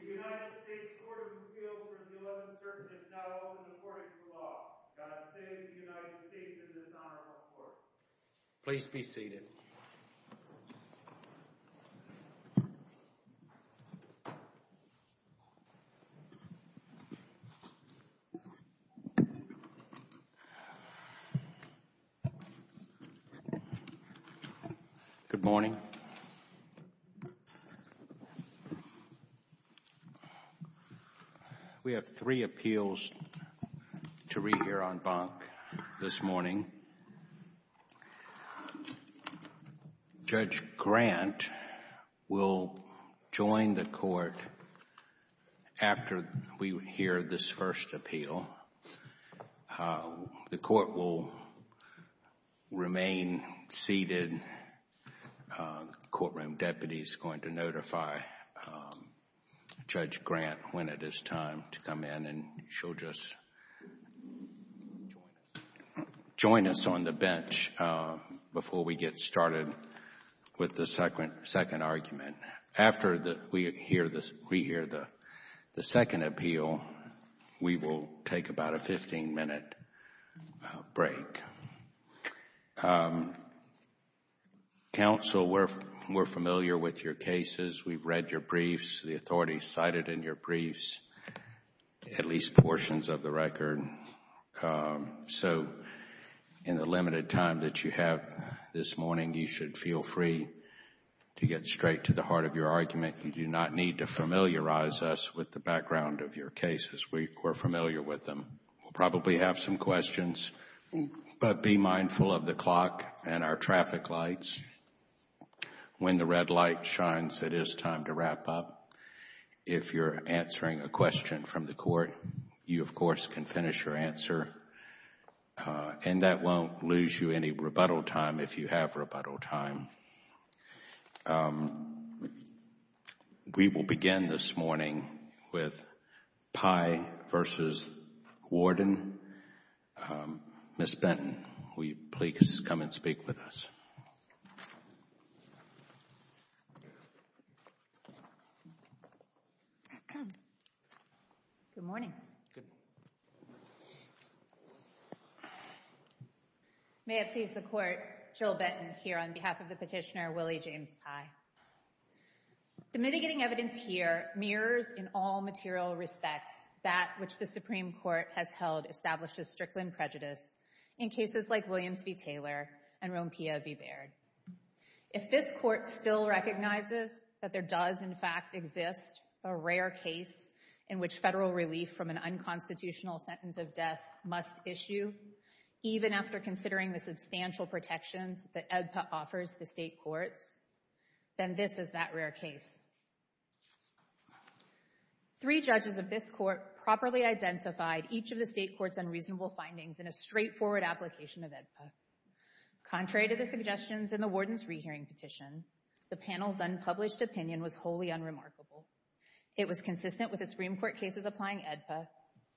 The United States Court of Appeals for the 11th Circuit is now open to court and to the law. God save the United States in this honorable court. Please be seated. Good morning. We have three appeals to rehear on bonk this morning. Judge Grant will join the court after we hear this first appeal. The court will remain seated. The courtroom deputy is going to notify Judge Grant when it is time to come in and she'll just join us on the bench before we get started with the second argument. After we hear the second appeal, we will take about a fifteen minute break. Counsel, we're familiar with your cases. We've read your briefs, the authorities cited in your briefs, at least portions of the record, so in the limited time that you have this morning, you should feel free to get straight to the heart of your argument. You do not need to familiarize us with the background of your cases. We're familiar with them. We'll probably have some questions, but be mindful of the clock and our traffic lights. When the red light shines, it is time to wrap up. If you're answering a question from the court, you, of course, can finish your answer. That won't lose you any rebuttal time if you have rebuttal time. We will begin this morning with Pye v. Warden. Ms. Benton, will you please come and speak with us? Good morning. Good morning. May it please the Court, Jill Benton here on behalf of the petitioner Willie James Pye. The mitigating evidence here mirrors in all material respects that which the Supreme Court has held establishes Strickland prejudice in cases like Williams v. Taylor and Rompea v. Baird. If this Court still recognizes that there does, in fact, exist a rare case in which federal relief from an unconstitutional sentence of death must issue, even after considering the substantial protections that EBPA offers the state courts, then this is that rare case. Three judges of this Court properly identified each of the state court's unreasonable findings in a straightforward application of EBPA. Contrary to the suggestions in the Warden's rehearing petition, the panel's unpublished opinion was wholly unremarkable. It was consistent with the Supreme Court cases applying EBPA,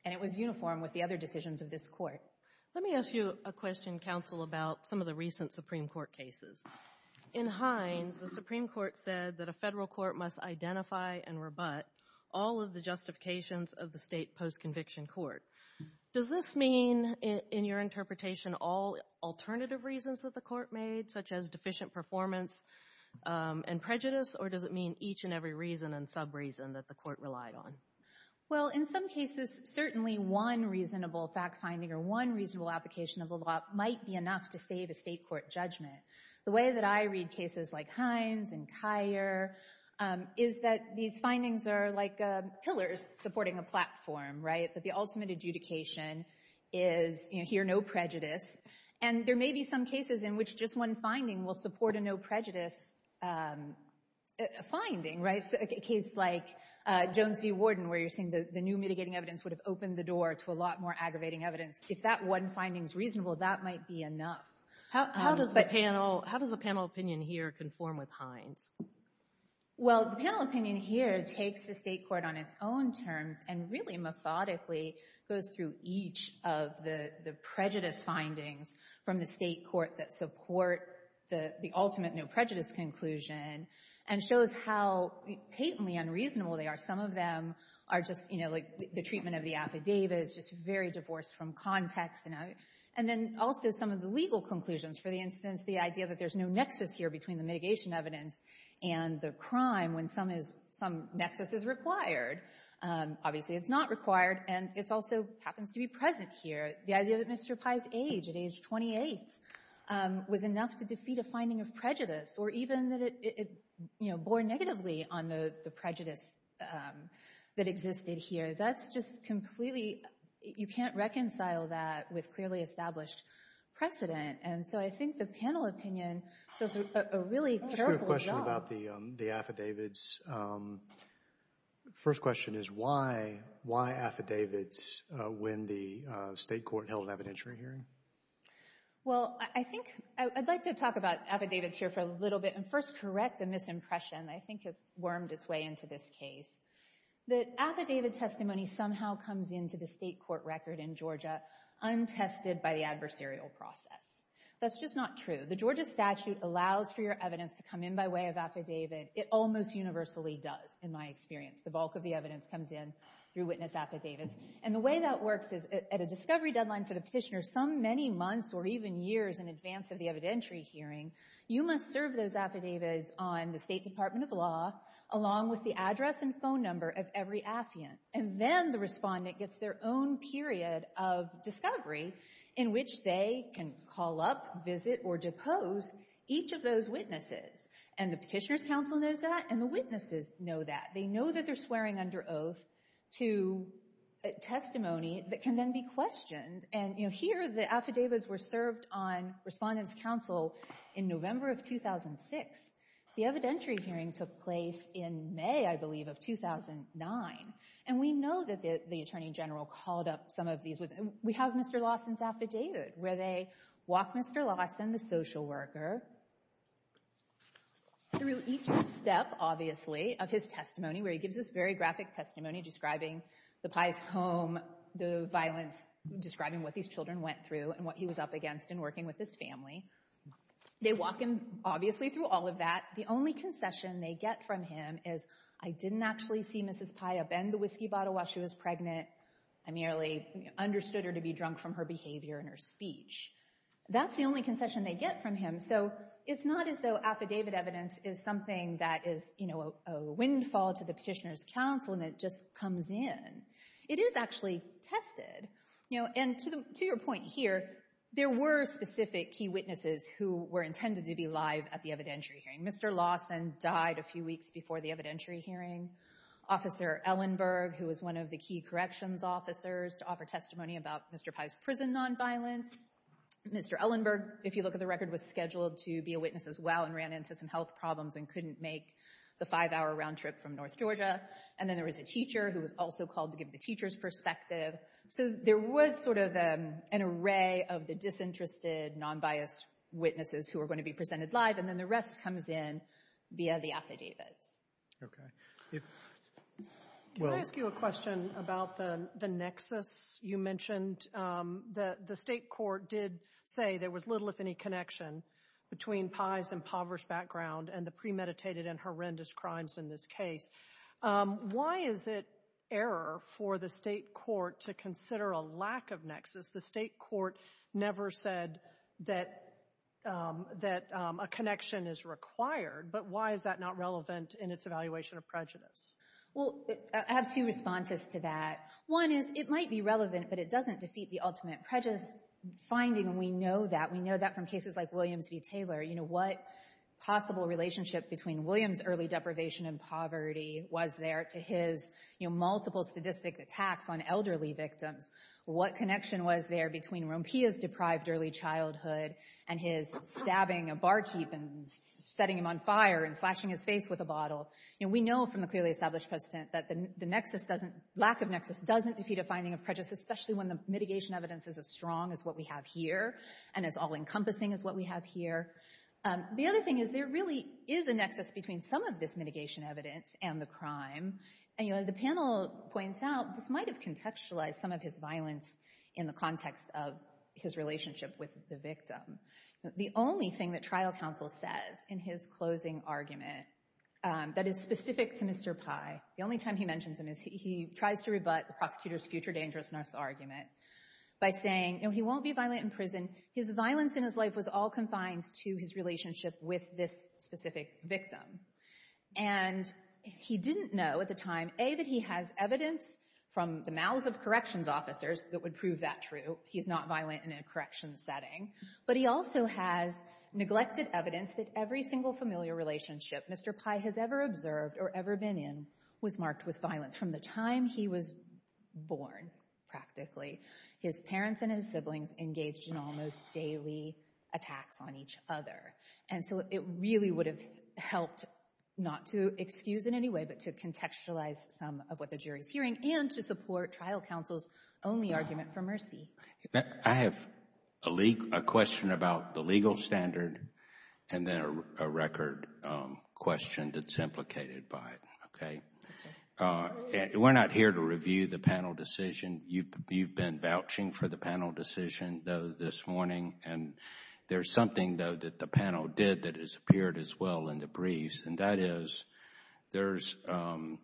and it was uniform with the other decisions of this Court. Let me ask you a question, Counsel, about some of the recent Supreme Court cases. In Hines, the Supreme Court said that a federal court must identify and rebut all of the justifications of the state post-conviction court. Does this mean, in your interpretation, all alternative reasons that the Court made, such as deficient performance and prejudice, or does it mean each and every reason and sub-reason that the Court relied on? Well, in some cases, certainly one reasonable fact-finding or one reasonable application of the law might be enough to save a state court judgment. The way that I read cases like Hines and Kyer is that these findings are like pillars supporting a platform, right, that the ultimate adjudication is, you know, here, no prejudice. And there may be some cases in which just one finding will support a no-prejudice finding, right, a case like Jones v. Warden, where you're seeing the new mitigating evidence would have opened the door to a lot more aggravating evidence. If that one finding is reasonable, that might be enough. How does the panel opinion here conform with Hines? Well, the panel opinion here takes the state court on its own terms and really methodically goes through each of the prejudice findings from the state court that support the ultimate no-prejudice conclusion and shows how patently unreasonable they are. Some of them are just, you know, like the treatment of the affidavit is just very divorced from context and then also some of the legal conclusions. For instance, the idea that there's no nexus here between the mitigation evidence and the crime when some nexus is required. Obviously, it's not required, and it also happens to be present here. The idea that Mr. Pai's age at age 28 was enough to defeat a finding of prejudice or even that it, you know, bore negatively on the prejudice that existed here. That's just completely, you can't reconcile that with clearly established precedent. And so I think the panel opinion does a really careful job. I just have a question about the affidavits. First question is why affidavits when the state court held an evidentiary hearing? Well, I think I'd like to talk about affidavits here for a little bit and first correct a misimpression I think has wormed its way into this case. The affidavit testimony somehow comes into the state court record in Georgia untested by the adversarial process. That's just not true. The Georgia statute allows for your evidence to come in by way of affidavit. It almost universally does, in my experience. The bulk of the evidence comes in through witness affidavits. And the way that works is at a discovery deadline for the petitioner, some many months or even years in advance of the evidentiary hearing, you must serve those affidavits on the State Department of Law along with the address and phone number of every affiant. And then the respondent gets their own period of discovery in which they can call up, visit, or depose each of those witnesses. And the Petitioner's Council knows that and the witnesses know that. They know that they're swearing under oath to a testimony that can then be questioned. And here the affidavits were served on Respondent's Council in November of 2006. The evidentiary hearing took place in May, I believe, of 2009. And we know that the Attorney General called up some of these witnesses. We have Mr. Lawson's affidavit where they walk Mr. Lawson, the social worker, through each step, obviously, of his testimony, where he gives this very graphic testimony describing the Pai's home, the violence, describing what these children went through and what he was up against in working with his family. They walk him, obviously, through all of that. The only concession they get from him is, I didn't actually see Mrs. Pai upend the whiskey bottle while she was pregnant. I merely understood her to be drunk from her behavior and her speech. That's the only concession they get from him. So it's not as though affidavit evidence is something that is a windfall to the Petitioner's Council and it just comes in. It is actually tested. And to your point here, there were specific key witnesses who were intended to be live at the evidentiary hearing. Mr. Lawson died a few weeks before the evidentiary hearing. Officer Ellenberg, who was one of the key corrections officers, to offer testimony about Mr. Pai's prison nonviolence. Mr. Ellenberg, if you look at the record, was scheduled to be a witness as well and ran into some health problems and couldn't make the five-hour round trip from North Georgia. And then there was a teacher who was also called to give the teacher's perspective. So there was sort of an array of the disinterested, non-biased witnesses who were going to be presented live. And then the rest comes in via the affidavits. Okay. Can I ask you a question about the nexus you mentioned? The state court did say there was little, if any, connection between Pai's impoverished background and the premeditated and horrendous crimes in this case. Why is it error for the state court to consider a lack of nexus? The state court never said that a connection is required. But why is that not relevant in its evaluation of prejudice? Well, I have two responses to that. One is it might be relevant, but it doesn't defeat the ultimate prejudice finding. And we know that. We know that from cases like Williams v. Taylor. What possible relationship between Williams' early deprivation and poverty was there to his multiple statistic attacks on elderly victims? What connection was there between Rompia's deprived early childhood and his stabbing a barkeep and setting him on fire and slashing his face with a bottle? We know from the clearly established precedent that the nexus doesn't, lack of nexus doesn't defeat a finding of prejudice, especially when the mitigation evidence is as strong as what we have here and as all-encompassing as what we have here. The other thing is there really is a nexus between some of this mitigation evidence and the crime. And the panel points out this might have contextualized some of his violence in the context of his relationship with the victim. The only thing that trial counsel says in his closing argument that is specific to Mr. Pye, the only time he mentions him is he tries to rebut the prosecutor's future dangerousness argument by saying, no, he won't be violent in prison. His violence in his life was all confined to his relationship with this specific victim. And he didn't know at the time, A, that he has evidence from the mouths of corrections officers that would prove that true. He's not violent in a corrections setting. But he also has neglected evidence that every single familiar relationship Mr. Pye has ever observed or ever been in was marked with violence from the time he was born, practically. His parents and his siblings engaged in almost daily attacks on each other. And so it really would have helped not to excuse in any way, but to contextualize some of what the jury's hearing and to support trial counsel's only argument for mercy. I have a question about the legal standard and then a record question that's implicated by it, okay? We're not here to review the panel decision. You've been vouching for the panel decision, though, this morning. And there's something, though, that the panel did that has appeared as well in the briefs. And that is, there's been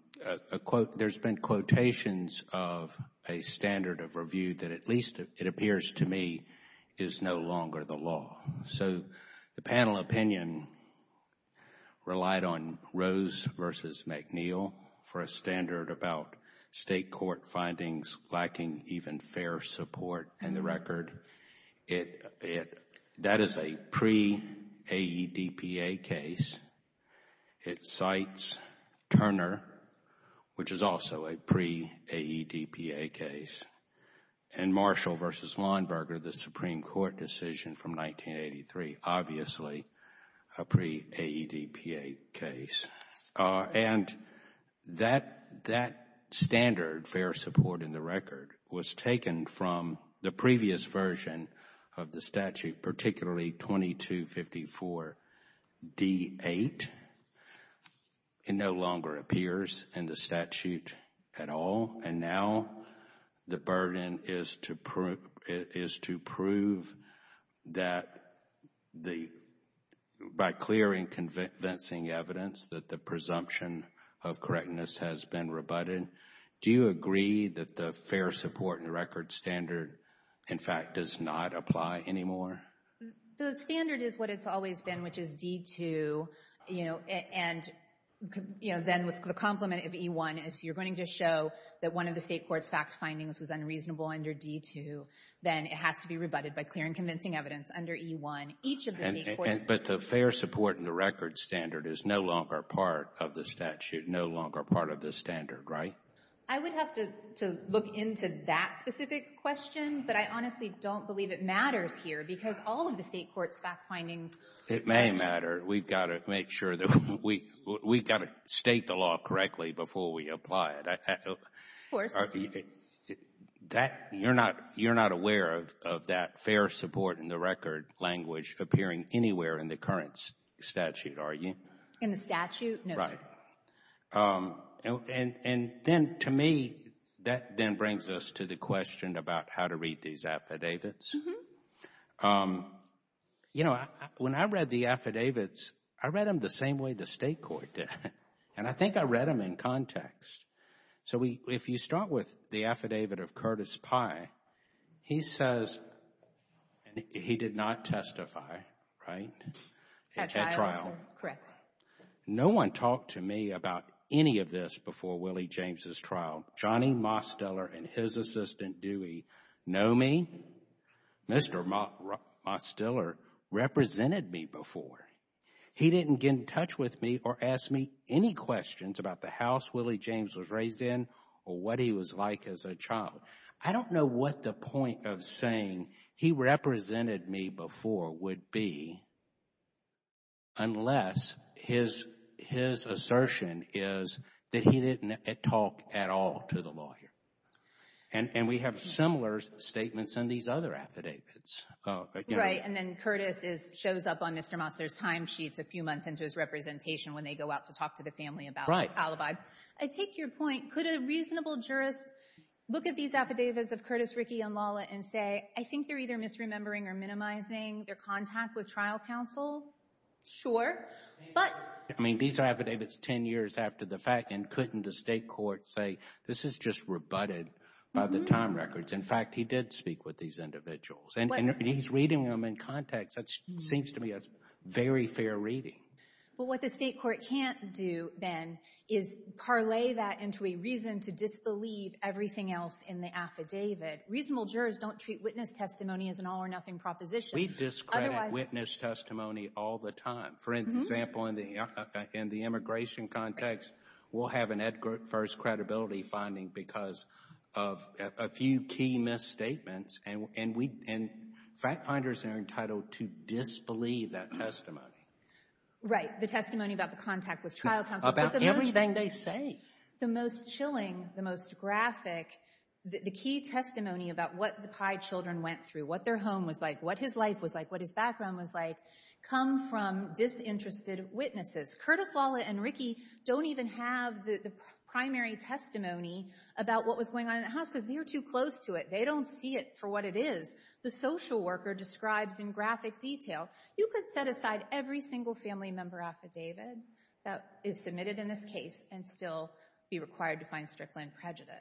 quotations of a standard of review that at least, it appears to me, is no longer the law. So the panel opinion relied on Rose versus McNeil for a standard about state court findings lacking even fair support. And the record, that is a pre-AEDPA case. It cites Turner, which is also a pre-AEDPA case. And Marshall versus Lawnberger, the Supreme Court decision from 1983, obviously a pre-AEDPA case. And that standard, fair support in the record, was taken from the previous version of the statute, particularly 2254 D-8. It no longer appears in the statute at all. And now the burden is to prove that by clearing convincing evidence that the presumption of correctness has been rebutted. Do you agree that the fair support in the record standard, in fact, does not apply anymore? The standard is what it's always been, which is D-2. And then with the complement of E-1, if you're going to show that one of the state court's fact findings was unreasonable under D-2, then it has to be rebutted by clearing convincing evidence under E-1. Each of the state courts— —are part of the statute, no longer part of the standard, right? I would have to look into that specific question, but I honestly don't believe it matters here because all of the state court's fact findings— It may matter. We've got to make sure that we've got to state the law correctly before we apply it. Of course. You're not aware of that fair support in the record language appearing anywhere in the current statute, are you? In the statute, no, sir. Right. And then to me, that then brings us to the question about how to read these affidavits. You know, when I read the affidavits, I read them the same way the state court did. And I think I read them in context. So if you start with the affidavit of Curtis Pye, he says he did not testify, right, at trial? Correct. No one talked to me about any of this before Willie James' trial. Johnny Mosteller and his assistant Dewey know me. Mr. Mosteller represented me before. He didn't get in touch with me or ask me any questions about the house Willie James was raised in or what he was like as a child. I don't know what the point of saying he represented me before would be unless his assertion is that he didn't talk at all to the lawyer. And we have similar statements in these other affidavits. Right. And then Curtis shows up on Mr. Mosteller's time sheets a few months into his representation when they go out to talk to the family about the calibi. I take your point. Could a reasonable jurist look at these affidavits of Curtis, Ricky, and Lala and say, I think they're either misremembering or minimizing their contact with trial counsel? Sure, but... I mean, these are affidavits 10 years after the fact. And couldn't the state court say, this is just rebutted by the time records. In fact, he did speak with these individuals. And he's reading them in context. That seems to me a very fair reading. But what the state court can't do, Ben, is parlay that into a reason to disbelieve everything else in the affidavit. Reasonable jurors don't treat witness testimony as an all or nothing proposition. We discredit witness testimony all the time. For example, in the immigration context, we'll have an Edgar First credibility finding because of a few key misstatements. And fact finders are entitled to disbelieve that testimony. Right, the testimony about the contact with trial counsel. About everything they say. The most chilling, the most graphic, the key testimony about what the Pai children went through, what their home was like, what his life was like, what his background was like, come from disinterested witnesses. Curtis Lawlett and Ricky don't even have the primary testimony about what was going on in the house because they were too close to it. They don't see it for what it is. The social worker describes in graphic detail. You could set aside every single family member affidavit that is submitted in this case and still be required to find Strickland prejudice.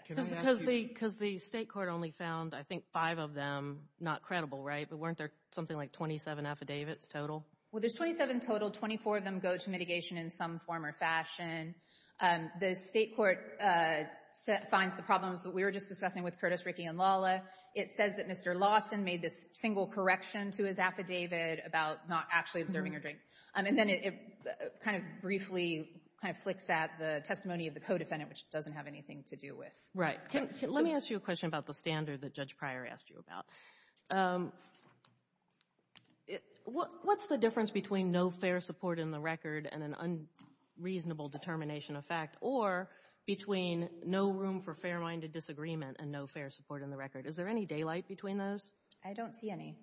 Because the state court only found, I think, five of them not credible, right? But weren't there something like 27 affidavits total? Well, there's 27 total. 24 of them go to mitigation in some form or fashion. The state court finds the problems that we were just discussing with Curtis, Ricky, and Lawlett. It says that Mr. Lawson made this single correction to his affidavit about not actually observing her drink. And then it kind of briefly kind of flicks at the testimony of the co-defendant, which doesn't have anything to do with. Right. Let me ask you a question about the standard that Judge Pryor asked you about. What's the difference between no fair support in the record and an unreasonable determination of fact or between no room for fair-minded disagreement and no fair support in the record? Is there any daylight between those? I don't see any.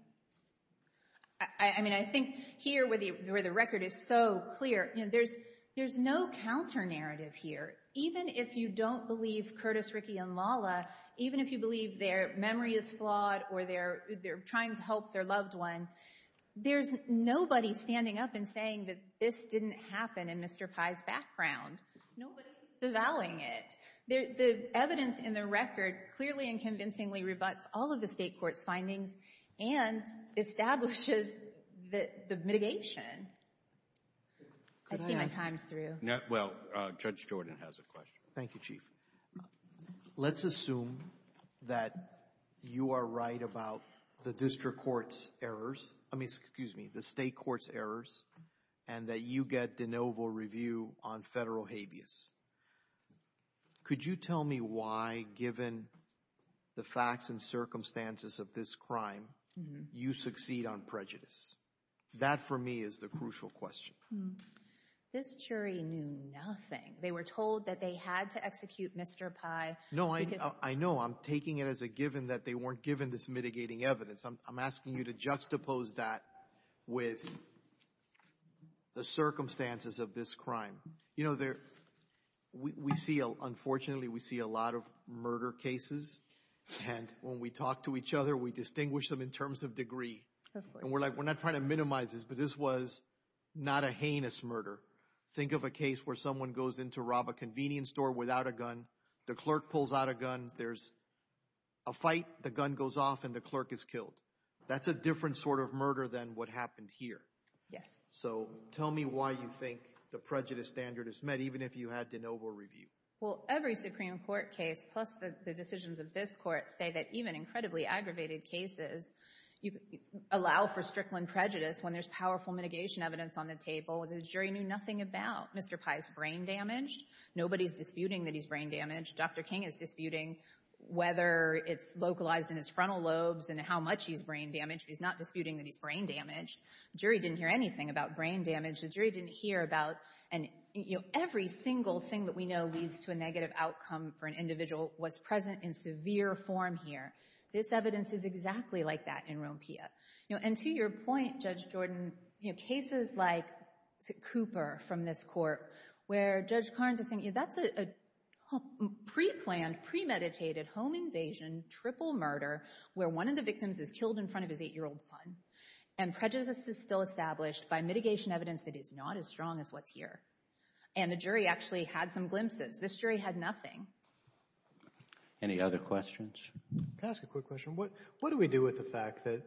I mean, I think here where the record is so clear, there's no counter-narrative here. Even if you don't believe Curtis, Ricky, and Lawlett, even if you believe their memory is flawed or they're trying to help their loved one, there's nobody standing up and saying that this didn't happen in Mr. Pye's background. Nobody's avowing it. The evidence in the record clearly and convincingly rebuts all of the state court's findings and establishes the mitigation. I see my time's through. Well, Judge Jordan has a question. Thank you, Chief. Let's assume that you are right about the district court's errors. I mean, excuse me, the state court's errors and that you get de novo review on federal habeas. Could you tell me why, given the facts and circumstances of this crime, you succeed on prejudice? That, for me, is the crucial question. This jury knew nothing. They were told that they had to execute Mr. Pye. No, I know. I'm taking it as a given that they weren't given this mitigating evidence. I'm asking you to juxtapose that with the circumstances of this crime. You know, we see, unfortunately, we see a lot of murder cases and when we talk to each other, we distinguish them in terms of degree. And we're like, we're not trying to minimize this, but this was not a heinous murder. Think of a case where someone goes in to rob a convenience store without a gun. The clerk pulls out a gun. There's a fight. The gun goes off and the clerk is killed. That's a different sort of murder than what happened here. Yes. So tell me why you think the prejudice standard is met, even if you had de novo review. Well, every Supreme Court case, plus the decisions of this court, say that even incredibly aggravated cases allow for strickland prejudice when there's powerful mitigation evidence on the table that the jury knew nothing about. Mr. Pai is brain damaged. Nobody's disputing that he's brain damaged. Dr. King is disputing whether it's localized in his frontal lobes and how much he's brain damaged. He's not disputing that he's brain damaged. Jury didn't hear anything about brain damage. The jury didn't hear about, and every single thing that we know leads to a negative outcome for an individual was present in severe form here. This evidence is exactly like that in Rompia. And to your point, Judge Jordan, cases like Cooper from this court, where Judge Carnes is saying, that's a pre-planned, premeditated home invasion, triple murder, where one of the victims is killed in front of his eight-year-old son, and prejudice is still established by mitigation evidence that is not as strong as what's here. And the jury actually had some glimpses. This jury had nothing. Any other questions? Can I ask a quick question? What do we do with the fact that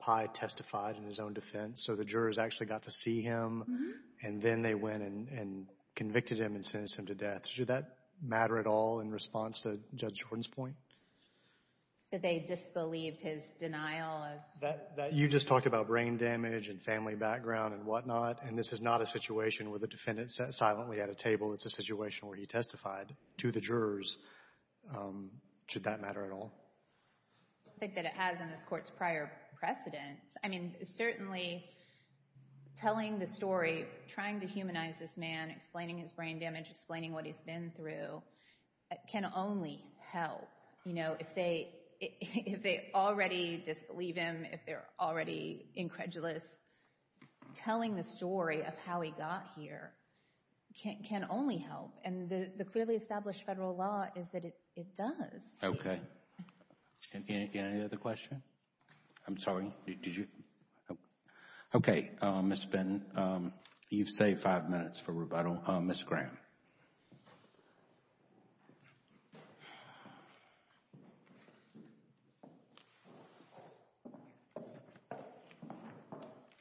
Pye testified in his own defense, so the jurors actually got to see him, and then they went and convicted him and sentenced him to death? Should that matter at all in response to Judge Jordan's point? That they disbelieved his denial? You just talked about brain damage and family background and whatnot, and this is not a situation where the defendant sat silently at a table. It's a situation where he testified to the jurors. Should that matter at all? I think that it has in this court's prior precedents. I mean, certainly telling the story, trying to humanize this man, explaining his brain damage, explaining what he's been through can only help. You know, if they already disbelieve him, if they're already incredulous, telling the story of how he got here can only help. And the clearly established federal law is that it does. Okay, any other question? I'm sorry, did you? Okay, Ms. Fenton, you've saved five minutes for rebuttal. Ms. Graham.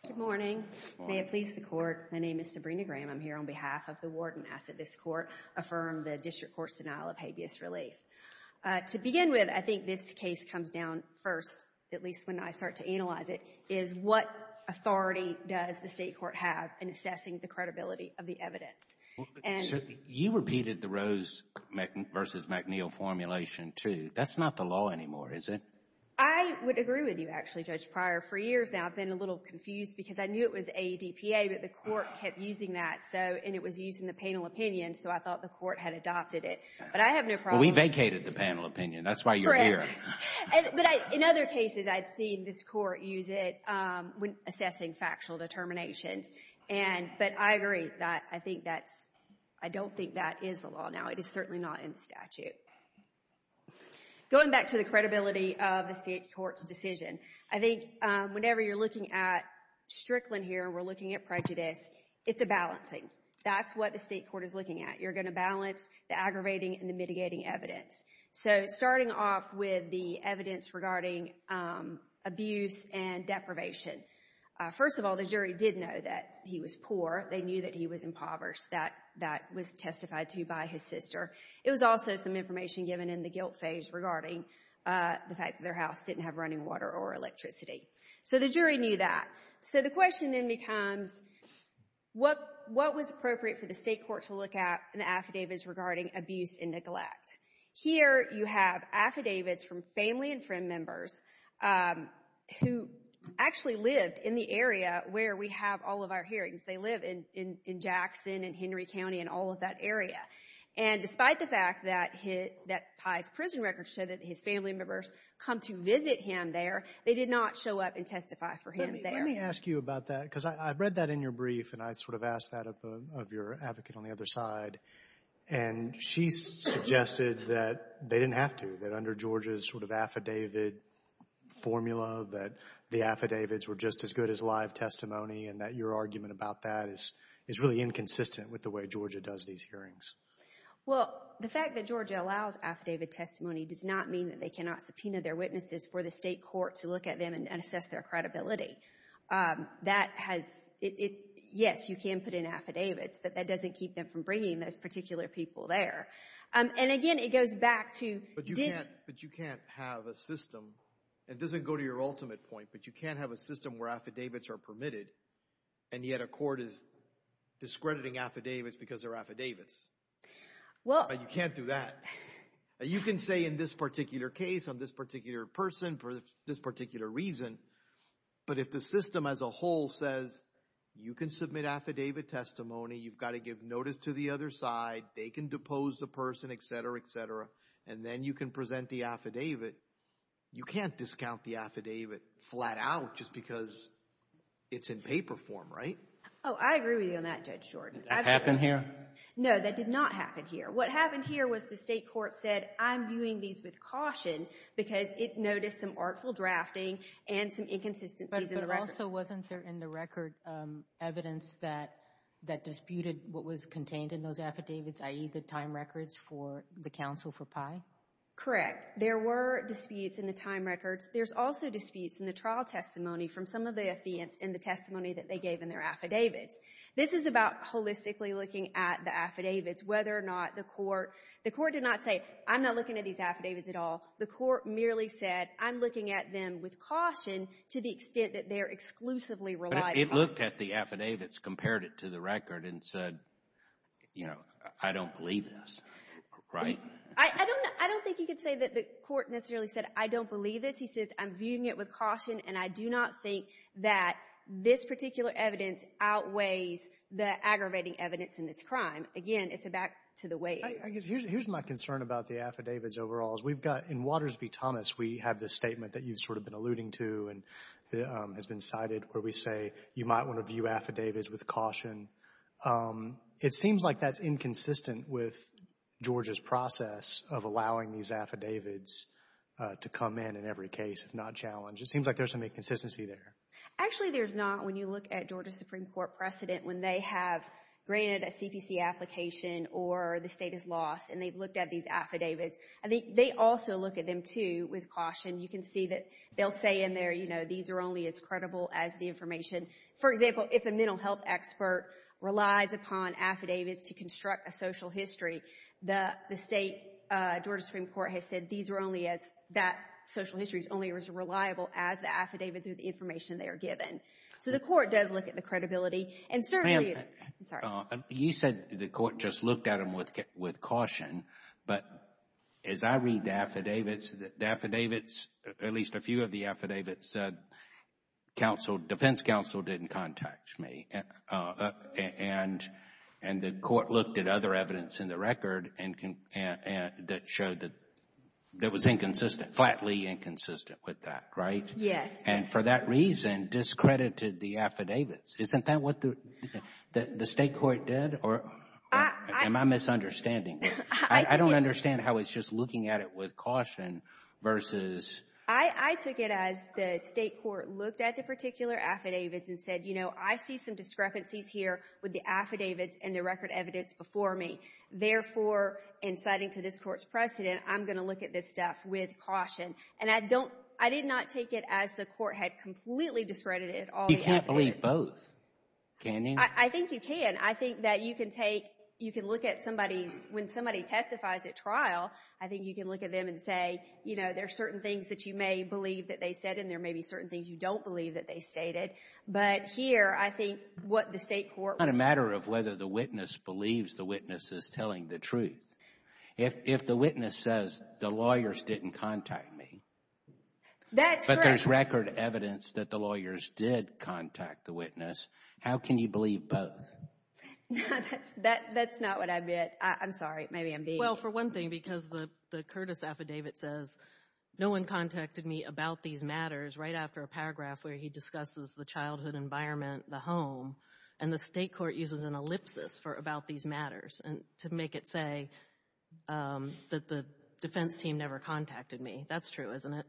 Good morning. May it please the Court. My name is Sabrina Graham. I'm here on behalf of the Warden. I ask that this Court affirm the District Court's denial of habeas relief. To begin with, I think this case comes down first, at least when I start to analyze it, is what authority does the State Court have in assessing the credibility of the evidence? You repeated the Rose v. McNeil formulation, too. That's not the law anymore, is it? I would agree with you, actually, Judge Pryor. For years now, I've been a little confused because I knew it was ADPA, but the Court kept using that, and it was used in the penal opinion, so I thought the Court had adopted it. But I have no problem. We vacated the penal opinion. That's why you're here. But in other cases, I'd seen this Court use it when assessing factual determination, but I agree that I don't think that is the law now. It is certainly not in the statute. Going back to the credibility of the State Court's decision, I think whenever you're looking at Strickland here and we're looking at prejudice, it's a balancing. That's what the State Court is looking at. You're going to balance the aggravating and the mitigating evidence. So starting off with the evidence regarding abuse and deprivation. First of all, the jury did know that he was poor. They knew that he was impoverished. That was testified to by his sister. It was also some information given in the guilt phase regarding the fact that their house didn't have running water or electricity. So the jury knew that. So the question then becomes what was appropriate for the State Court to look at in the affidavits regarding abuse and neglect? Here you have affidavits from family and friend members who actually lived in the area where we have all of our hearings. They live in Jackson and Henry County and all of that area. And despite the fact that Pye's prison records show that his family members come to visit him there, they did not show up and testify for him there. Let me ask you about that, because I read that in your brief and I sort of asked that of your advocate on the other side. And she suggested that they didn't have to, that under Georgia's sort of affidavit formula, that the affidavits were just as good as live testimony and that your argument about that is really inconsistent with the way Georgia does these hearings. Well, the fact that Georgia allows affidavit testimony does not mean that they cannot subpoena their witnesses for the State Court to look at them and assess their credibility. That has, yes, you can put in affidavits, but that doesn't keep them from bringing those particular people there. And again, it goes back to- But you can't have a system, it doesn't go to your ultimate point, but you can't have a system where affidavits are permitted and yet a court is discrediting affidavits because they're affidavits. You can't do that. You can say in this particular case, on this particular person, for this particular reason, but if the system as a whole says, you can submit affidavit testimony, you've got to give notice to the other side, they can depose the person, et cetera, et cetera, and then you can present the affidavit, you can't discount the affidavit flat out just because it's in paper form, right? Oh, I agree with you on that, Judge Jordan. Did that happen here? No, that did not happen here. What happened here was the State Court said, I'm viewing these with caution because it noticed some artful drafting and some inconsistencies in the record. But also wasn't there in the record evidence that disputed what was contained in those affidavits, i.e. the time records for the counsel for Pye? Correct. There were disputes in the time records. There's also disputes in the trial testimony from some of the affidavits in the testimony that they gave in their affidavits. This is about holistically looking at the affidavits, whether or not the court, the court did not say, I'm not looking at these affidavits at all. The court merely said, I'm looking at them with caution to the extent that they're exclusively relied upon. It looked at the affidavits, compared it to the record, and said, you know, I don't believe this, right? I don't think you could say that the court necessarily said, I don't believe this. He says, I'm viewing it with caution and I do not think that this particular evidence outweighs the aggravating evidence in this crime. Again, it's a back to the weight. Here's my concern about the affidavits overall, is we've got, in Waters v. Thomas, we have this statement that you've sort of been alluding to and has been cited where we say you might want to view affidavits with caution. It seems like that's inconsistent with Georgia's process of allowing these affidavits to come in in every case, if not challenged. It seems like there's some inconsistency there. Actually, there's not. When you look at Georgia Supreme Court precedent, when they have granted a CPC application or the state is lost and they've looked at these affidavits, I think they also look at them too with caution. You can see that they'll say in there, these are only as credible as the information. For example, if a mental health expert relies upon affidavits to construct a social history, the state, Georgia Supreme Court has said these are only as, that social history is only as reliable as the affidavits with the information they are given. So the court does look at the credibility and certainly, I'm sorry. You said the court just looked at them with caution, but as I read the affidavits, the affidavits, at least a few of the affidavits, defense counsel didn't contact me. And the court looked at other evidence in the record that showed that it was inconsistent, flatly inconsistent with that, right? Yes. And for that reason, discredited the affidavits. Isn't that what the state court did? Am I misunderstanding? I don't understand how it's just looking at it with caution versus... I took it as the state court looked at the particular affidavits and said, you know, I see some discrepancies here with the affidavits and the record evidence before me. Therefore, inciting to this court's precedent, I'm going to look at this stuff with caution. And I don't, I did not take it as the court had completely discredited all the affidavits. You can't believe both, can you? I think you can. I think that you can take, you can look at somebody's, when somebody testifies at trial, I think you can look at them and say, you know, there are certain things that you may believe that they said, and there may be certain things you don't believe that they stated. But here, I think what the state court... It's not a matter of whether the witness believes the witness is telling the truth. If the witness says, the lawyers didn't contact me... That's correct. ...but there's record evidence that the lawyers did contact the witness, how can you believe both? That's not what I meant. I'm sorry. Maybe I'm being... Well, for one thing, because the Curtis affidavit says, no one contacted me about these matters right after a paragraph where he discusses the childhood environment, the home, and the state court uses an ellipsis for about these matters to make it say that the defense team never contacted me. That's true, isn't it?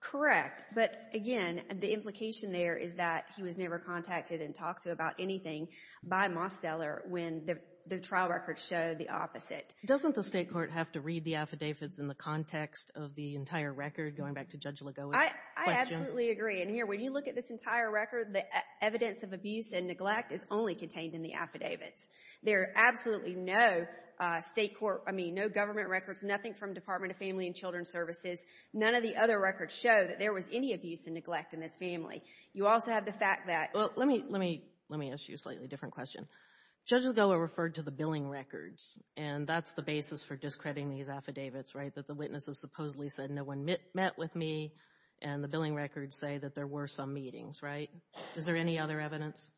Correct. But again, the implication there is that he was never contacted and talked to about anything by Mosteller when the trial records show the opposite. Doesn't the state court have to read the affidavits in the context of the entire record, going back to Judge Ligoa's question? I absolutely agree. And here, when you look at this entire record, the evidence of abuse and neglect is only contained in the affidavits. There are absolutely no state court... I mean, no government records, nothing from Department of Family and Children Services. None of the other records show that there was any abuse and neglect in this family. You also have the fact that... Well, let me ask you a slightly different question. Judge Ligoa referred to the billing records, and that's the basis for discrediting these affidavits, right? That the witnesses supposedly said, no one met with me, and the billing records say that there were some meetings, right? Is there any other evidence?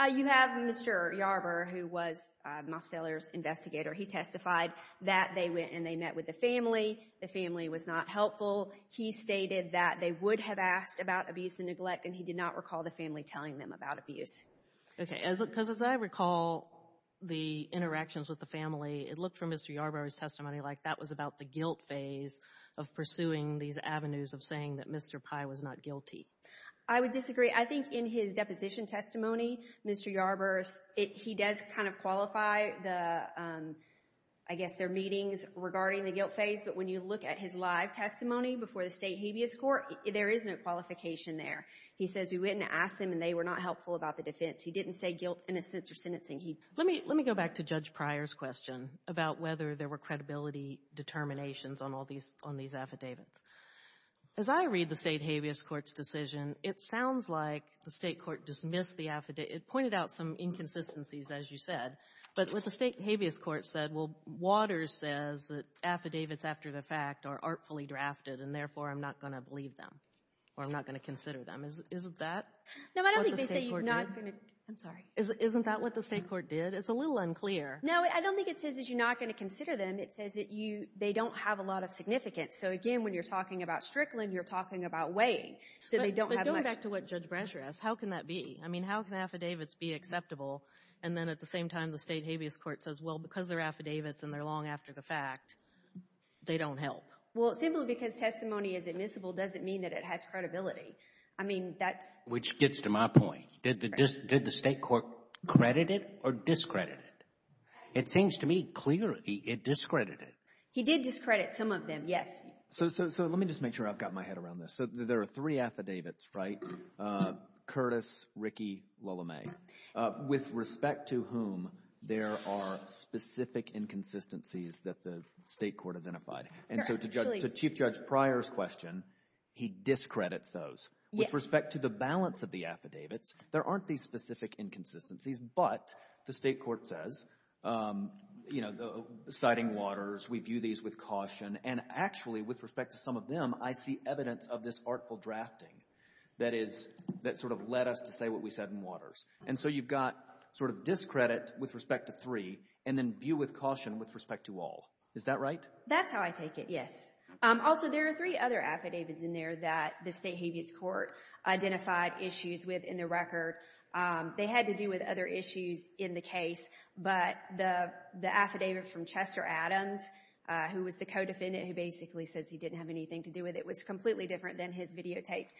You have Mr. Yarber, who was Mosteller's investigator. He testified that they went and they met with the family. The family was not helpful. He stated that they would have asked about abuse and neglect, and he did not recall the family telling them about abuse. Okay, because as I recall the interactions with the family, it looked from Mr. Yarber's testimony like that was about the guilt phase of pursuing these avenues of saying that Mr. Pye was not guilty. I would disagree. I think in his deposition testimony, Mr. Yarber, he does kind of qualify the... I guess their meetings regarding the guilt phase, but when you look at his live testimony before the state habeas court, there is no qualification there. He says, we went and asked them, and they were not helpful about the defense. He didn't say guilt in a sense or sentencing. Let me go back to Judge Pryor's question about whether there were credibility determinations on all these affidavits. As I read the state habeas court's decision, it sounds like the state court dismissed the affidavit. It pointed out some inconsistencies, as you said, but what the state habeas court said, well, Waters says that affidavits after the fact are artfully drafted, and therefore, I'm not going to believe them, or I'm not going to consider them. Isn't that? No, I don't think they say you're not going to... I'm sorry. Isn't that what the state court did? It's a little unclear. No, I don't think it says that you're not going to consider them. It says that they don't have a lot of significance. So again, when you're talking about Strickland, you're talking about weighing. So they don't have much... But going back to what Judge Bransher asked, how can that be? I mean, how can affidavits be acceptable? And then at the same time, the state habeas court says, well, because they're affidavits and they're long after the fact, they don't help. Well, simply because testimony is admissible doesn't mean that it has credibility. I mean, that's... Which gets to my point. Did the state court credit it or discredit it? It seems to me clearly it discredited it. He did discredit some of them, yes. So let me just make sure I've got my head around this. So there are three affidavits, right? Curtis, Rickey, Lalame, with respect to whom there are specific inconsistencies that the state court identified. And so to Chief Judge Pryor's question, he discredits those. With respect to the balance of the affidavits, there aren't these specific inconsistencies, but the state court says, you know, citing waters, we view these with caution. And actually, with respect to some of them, I see evidence of this artful drafting that sort of led us to say what we said in waters. And so you've got sort of discredit with respect to three and then view with caution with respect to all. Is that right? That's how I take it, yes. Also, there are three other affidavits in there that the state habeas court identified issues with in the record. They had to do with other issues in the case, but the affidavit from Chester Adams, who was the co-defendant who basically says he didn't have anything to do with it, was completely different than his videotaped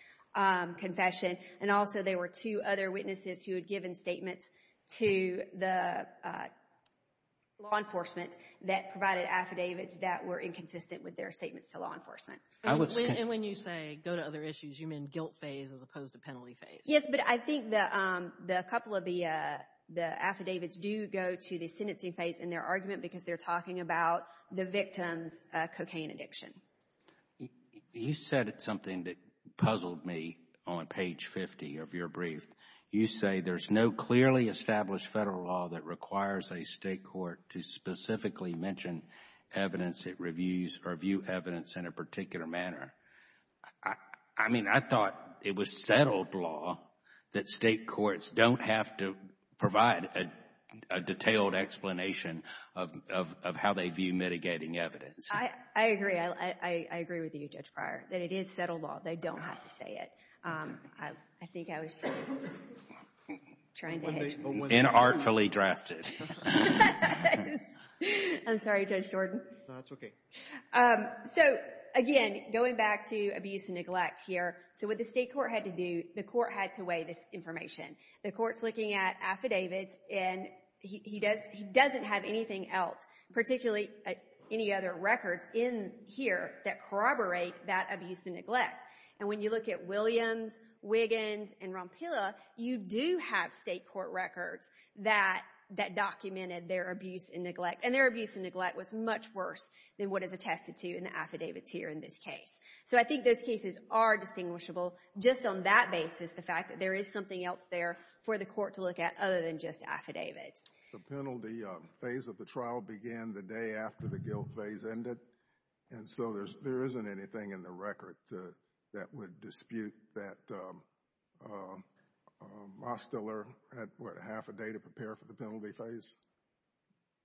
confession. And also there were two other witnesses who had given statements to the law enforcement that provided affidavits that were inconsistent with their statements to law enforcement. And when you say go to other issues, you mean guilt phase as opposed to penalty phase? Yes, but I think that a couple of the affidavits do go to the sentencing phase in their argument because they're talking about the victim's cocaine addiction. You said something that puzzled me on page 50 of your brief. You say there's no clearly established federal law that requires a state court to specifically mention evidence or view evidence in a particular manner. I mean, I thought it was settled law that state courts don't have to provide a detailed explanation of how they view mitigating evidence. I agree. I agree with you, Judge Pryor, that it is settled law. They don't have to say it. I think I was just trying to hit you. Inartfully drafted. I'm sorry, Judge Jordan. That's okay. So again, going back to abuse and neglect here. So what the state court had to do, the court had to weigh this information. The court's looking at affidavits, and he doesn't have anything else, particularly any other records in here that corroborate that abuse and neglect. And when you look at Williams, Wiggins, and Rompilla, you do have state court records that documented their abuse and neglect. And their abuse and neglect was much worse than what is attested to in the affidavits here in this case. So I think those cases are distinguishable just on that basis, the fact that there is something else there for the court to look at other than just affidavits. The penalty phase of the trial began the day after the guilt phase ended. And so there isn't anything in the record that would dispute that Mosteller had, what, half a day to prepare for the penalty phase?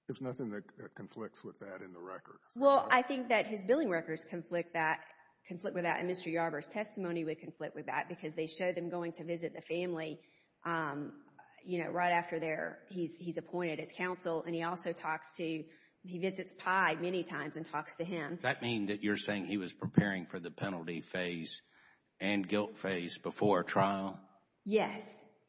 There's nothing that conflicts with that in the record. Well, I think that his billing records conflict with that, and Mr. Yarbrough's testimony would conflict with that, because they show them going to visit the family right after he's appointed as counsel. And he also talks to, he visits Pye many times and talks to him. That means that you're saying he was preparing for the penalty phase and guilt phase before a trial? Yes,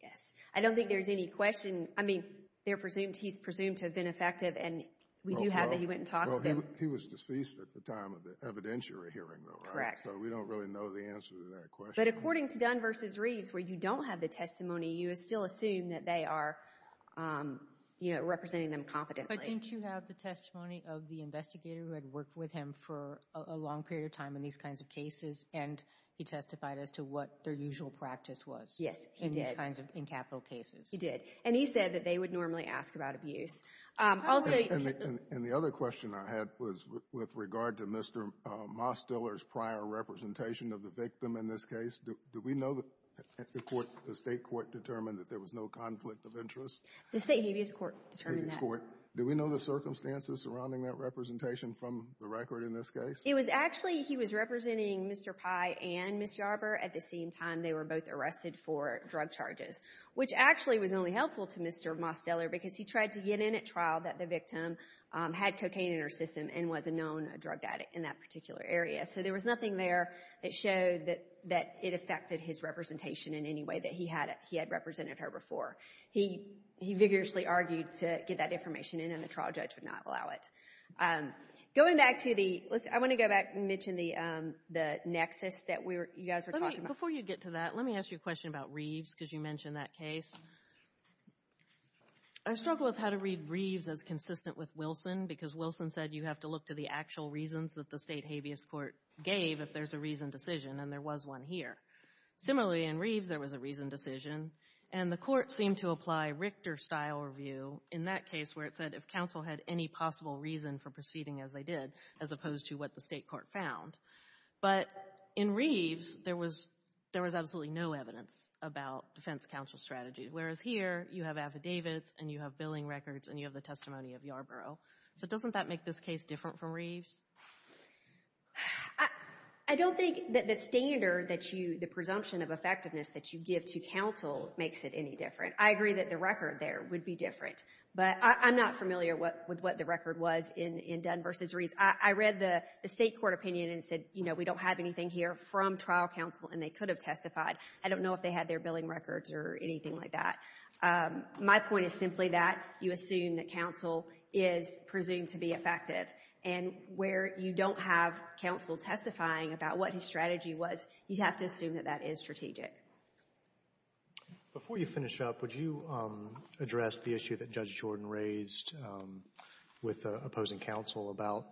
yes. I don't think there's any question. I mean, they're presumed, he's presumed to have been effective, and we do have that he went and talked to them. He was deceased at the time of the evidentiary hearing, though, right? Correct. So we don't really know the answer to that question. But according to Dunn versus Reeves, where you don't have the testimony, you still assume that they are, you know, representing them competently. But didn't you have the testimony of the investigator who had worked with him for a long period of time in these kinds of cases, and he testified as to what their usual practice was? Yes, he did. In these kinds of, in capital cases. He did. And he said that they would normally ask about abuse. And the other question I had was with regard to Mr. Mosdiller's prior representation of the victim in this case. Do we know that the court, the state court, determined that there was no conflict of interest? The state habeas court determined that. Do we know the circumstances surrounding that representation from the record in this case? It was actually, he was representing Mr. Pye and Ms. Yarbrough at the same time they were both arrested for drug charges, which actually was only helpful to Mr. Mosdiller because he tried to get in at trial that the victim had cocaine in her system and was a known drug addict in that particular area. So there was nothing there that showed that it affected his representation in any way that he had represented her before. He vigorously argued to get that information in, and the trial judge would not allow it. Going back to the, I want to go back and mention the nexus that you guys were talking about. Before you get to that, let me ask you a question about Reeves, because you mentioned that case. I struggle with how to read Reeves as consistent with Wilson, because Wilson said you have to look to the actual reasons that the state habeas court gave if there's a reasoned decision, and there was one here. Similarly, in Reeves, there was a reasoned decision, and the court seemed to apply Richter-style review in that case where it said if counsel had any possible reason for proceeding as they did, as opposed to what the state court found. But in Reeves, there was absolutely no evidence about defense counsel strategy, whereas here, you have affidavits, and you have billing records, and you have the testimony of Yarborough. So doesn't that make this case different from Reeves? I don't think that the standard that you, the presumption of effectiveness that you give to counsel makes it any different. I agree that the record there would be different, but I'm not familiar with what the record was in Dunn versus Reeves. I read the state court opinion and said, you know, we don't have anything here from trial counsel, and they could have testified. I don't know if they had their billing records or anything like that. My point is simply that you assume that counsel is presumed to be effective, and where you don't have counsel testifying about what his strategy was, you have to assume that that is strategic. Before you finish up, would you address the issue that Judge Jordan raised with the opposing counsel about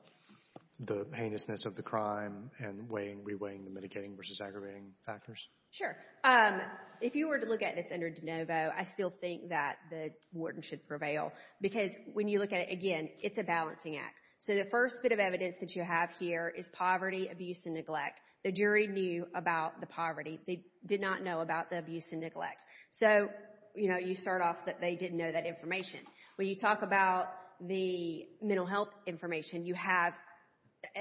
the heinousness of the crime and weighing, re-weighing the mitigating versus aggravating factors? Sure. If you were to look at this under DeNovo, I still think that the warden should prevail because when you look at it again, it's a balancing act. So the first bit of evidence that you have here is poverty, abuse, and neglect. The jury knew about the poverty. They did not know about the abuse and neglect. So, you know, you start off that they didn't know that information. When you talk about the mental health information, you have,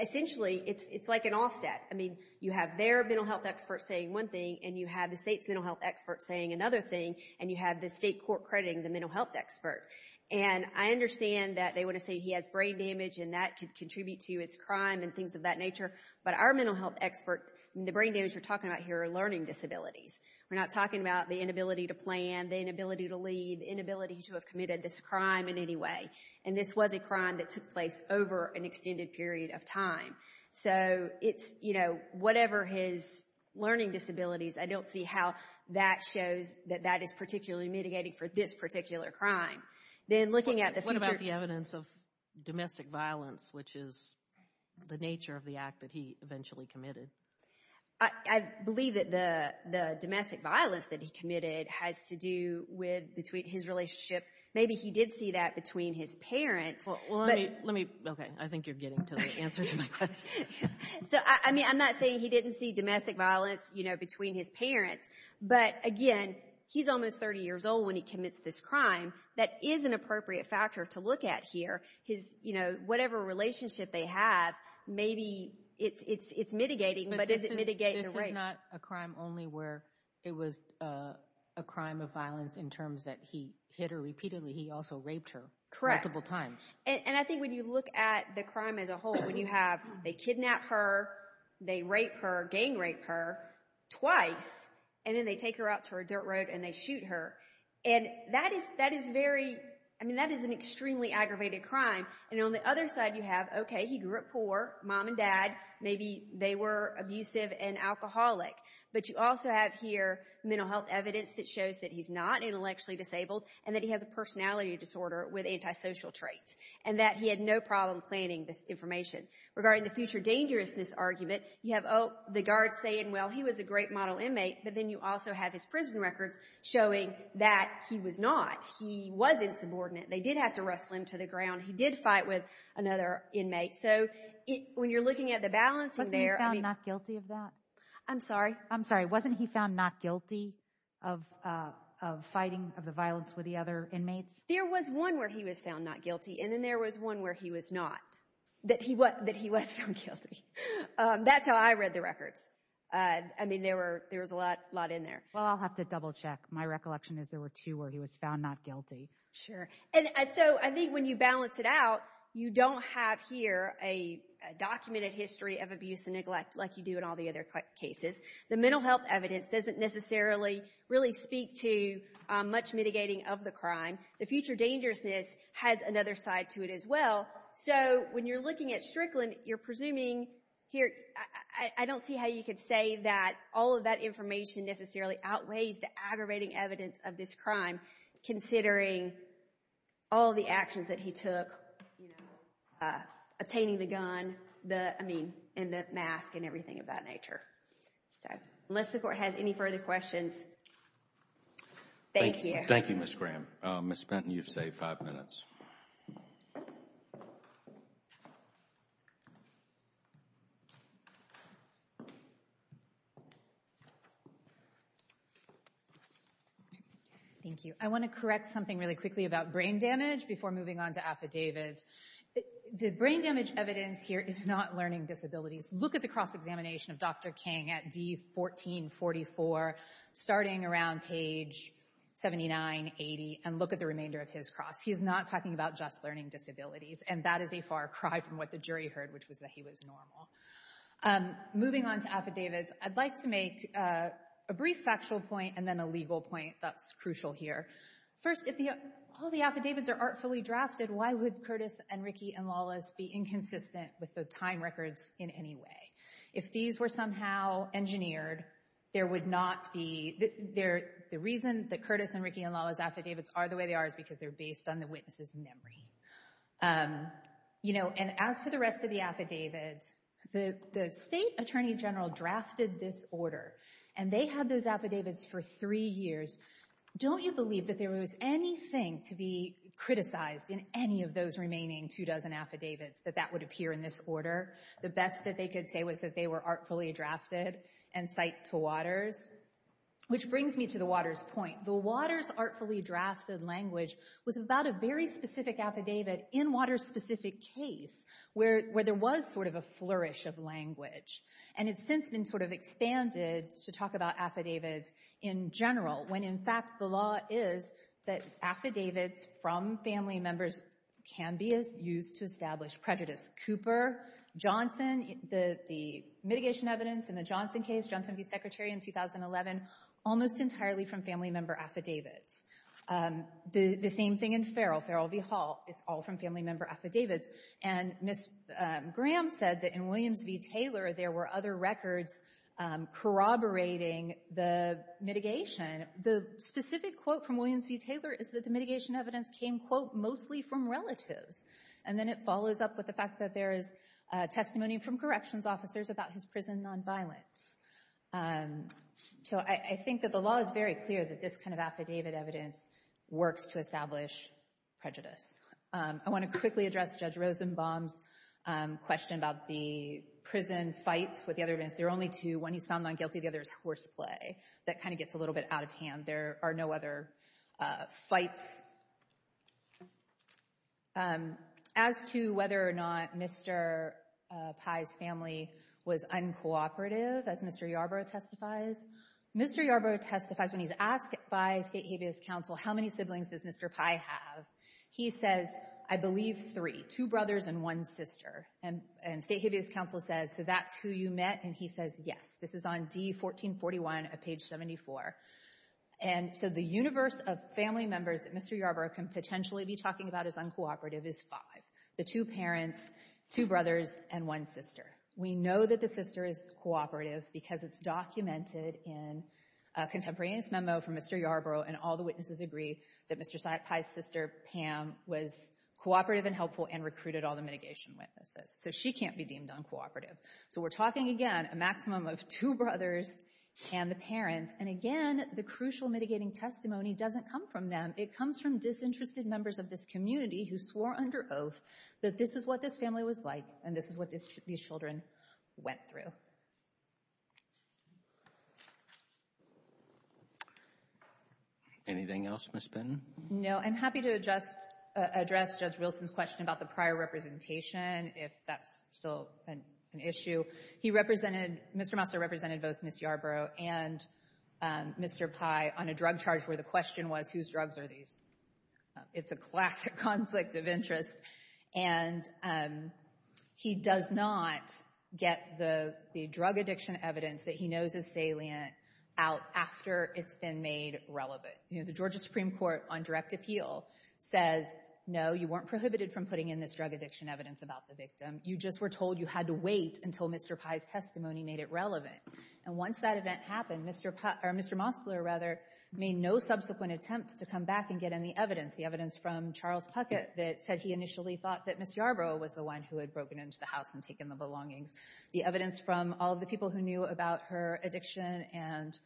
essentially, it's like an offset. I mean, you have their mental health experts saying one thing, and you have the state's mental health experts saying another thing, and you have the state court crediting the mental health expert. And I understand that they want to say he has brain damage, and that could contribute to his crime and things of that nature. But our mental health expert, the brain damage we're talking about here are learning disabilities. We're not talking about the inability to plan, the inability to lead, the inability to have committed this crime in any way. And this was a crime that took place over an extended period of time. So it's, you know, whatever his learning disabilities, I don't see how that shows that that is particularly mitigating for this particular crime. Then looking at the future... What about the evidence of domestic violence, which is the nature of the act that he eventually committed? I believe that the domestic violence that he committed has to do with between his relationship. Maybe he did see that between his parents. Well, let me, okay, I think you're getting to the answer to my question. So, I mean, I'm not saying he didn't see domestic violence, you know, between his parents. But again, he's almost 30 years old when he commits this crime. That is an appropriate factor to look at here. His, you know, whatever relationship they have, maybe it's mitigating, but does it mitigate the rape? This is not a crime only where it was a crime of violence in terms that he hit her repeatedly. He also raped her multiple times. And I think when you look at the crime as a whole, when you have, they kidnap her, they rape her, gang rape her twice, and then they take her out to a dirt road and they shoot her. And that is very, I mean, that is an extremely aggravated crime. And on the other side you have, okay, he grew up poor, mom and dad, maybe they were abusive and alcoholic. But you also have here mental health evidence that shows that he's not intellectually disabled and that he has a personality disorder with antisocial traits. And that he had no problem planning this information. Regarding the future dangerousness argument, you have, oh, the guard's saying, well, he was a great model inmate. But then you also have his prison records showing that he was not. He was insubordinate. They did have to wrestle him to the ground. He did fight with another inmate. So when you're looking at the balancing there, I mean- Wasn't he found not guilty of that? I'm sorry, I'm sorry. Wasn't he found not guilty of fighting of the violence with the other inmates? There was one where he was found not guilty. And then there was one where he was not. That he was found guilty. That's how I read the records. I mean, there was a lot in there. Well, I'll have to double check. My recollection is there were two where he was found not guilty. Sure. And so I think when you balance it out, you don't have here a documented history of abuse and neglect like you do in all the other cases. The mental health evidence doesn't necessarily really speak to much mitigating of the crime. The future dangerousness has another side to it as well. So when you're looking at Strickland, you're presuming here- I don't see how you could say that all of that information necessarily outweighs the aggravating evidence of this crime considering all the actions that he took. Obtaining the gun, I mean, and the mask and everything of that nature. So unless the court has any further questions. Thank you. Thank you, Ms. Graham. Ms. Benton, you've saved five minutes. Thank you. I want to correct something really quickly about brain damage before moving on to affidavits. The brain damage evidence here is not learning disabilities. Look at the cross-examination of Dr. Kang at D1444 starting around page 79-80 and look at the remainder of his cross. He's not talking about just learning disabilities and that is a far cry from what the jury heard, which was that he was normal. Moving on to affidavits, I'd like to make a brief factual point and then a legal point that's crucial here. First, if all the affidavits are artfully drafted, why would Curtis and Rickey and Lawless be inconsistent with the time records in any way? If these were somehow engineered, there would not be... The reason that Curtis and Rickey and Lawless affidavits are the way they are is because they're based on the witness's memory. And as to the rest of the affidavits, the state attorney general drafted this order and they had those affidavits for three years. Don't you believe that there was anything to be criticized in any of those remaining two dozen affidavits that that would appear in this order? The best that they could say was that they were artfully drafted and cite to Waters. Which brings me to the Waters point. The Waters artfully drafted language was about a very specific affidavit in Waters' specific case where there was sort of a flourish of language. And it's since been sort of expanded to talk about affidavits in general when in fact the law is that affidavits from family members can be used to establish prejudice. Cooper, Johnson, the mitigation evidence in the Johnson case, Johnson v. Secretary in 2011, almost entirely from family member affidavits. The same thing in Farrell, Farrell v. Hall, it's all from family member affidavits. And Ms. Graham said that in Williams v. Taylor, there were other records corroborating the mitigation. The specific quote from Williams v. Taylor is that the mitigation evidence came, quote, mostly from relatives. And then it follows up with the fact that there is testimony from corrections officers about his prison nonviolence. So I think that the law is very clear that this kind of affidavit evidence works to establish prejudice. I want to quickly address Judge Rosenbaum's question about the prison fights with the other events. There are only two, one he's found not guilty, the other is horseplay. That kind of gets a little bit out of hand. There are no other fights. As to whether or not Mr. Pye's family was uncooperative, as Mr. Yarbrough testifies, Mr. Yarbrough testifies when he's asked by State Habeas Council, how many siblings does Mr. Pye have? He says, I believe three, two brothers and one sister. And State Habeas Council says, so that's who you met? And he says, yes. This is on D-1441 at page 74. And so the universe of family members that Mr. Yarbrough can potentially be talking about as uncooperative is five, the two parents, two brothers, and one sister. We know that the sister is cooperative because it's documented in a contemporaneous memo from Mr. Yarbrough, and all the witnesses agree that Mr. Pye's sister, Pam, was cooperative and helpful and recruited all the mitigation witnesses. So she can't be deemed uncooperative. So we're talking again, a maximum of two brothers and the parents. And again, the crucial mitigating testimony doesn't come from them. It comes from disinterested members of this community who swore under oath that this is what this family was like and this is what these children went through. Anything else, Ms. Benton? No, I'm happy to address Judge Wilson's question about the prior representation, if that's still an issue. He represented, Mr. Mouser represented both Ms. Yarbrough and Mr. Pye on a drug charge where the question was, whose drugs are these? It's a classic conflict of interest. And he does not get the drug addiction evidence that he knows is salient out after it's been made relevant. The Georgia Supreme Court on direct appeal says, no, you weren't prohibited from putting in this drug addiction evidence about the victim. You just were told you had to wait until Mr. Pye's testimony made it relevant. And once that event happened, Mr. Mosler made no subsequent attempt to come back and get any evidence. The evidence from Charles Puckett that said he initially thought that Ms. Yarbrough was the one who had broken into the house and taken the belongings. The evidence from all of the people who knew about her addiction and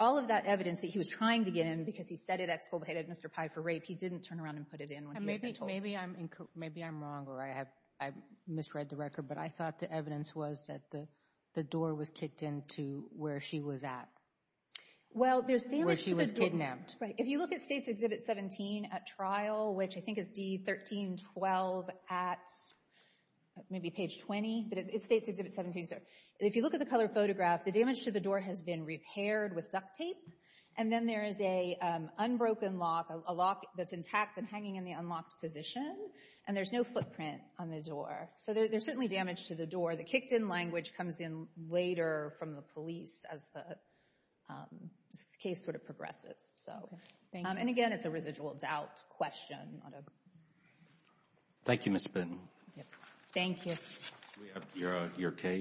all of that evidence that he was trying to get in because he said it exculpated Mr. Pye for rape, he didn't turn around and put it in. And maybe I'm wrong or I misread the record, but I thought the evidence was that the door was kicked into where she was at. Where she was kidnapped. If you look at States Exhibit 17 at trial, which I think is D1312 at maybe page 20. If you look at the color photograph, the damage to the door has been repaired with duct tape. And then there is a unbroken lock, a lock that's intact and hanging in the unlocked position. And there's no footprint on the door. So there's certainly damage to the door. The kicked in language comes in later from the police as the case sort of progresses. So, and again, it's a residual doubt question. Thank you, Ms. Bitten. Thank you.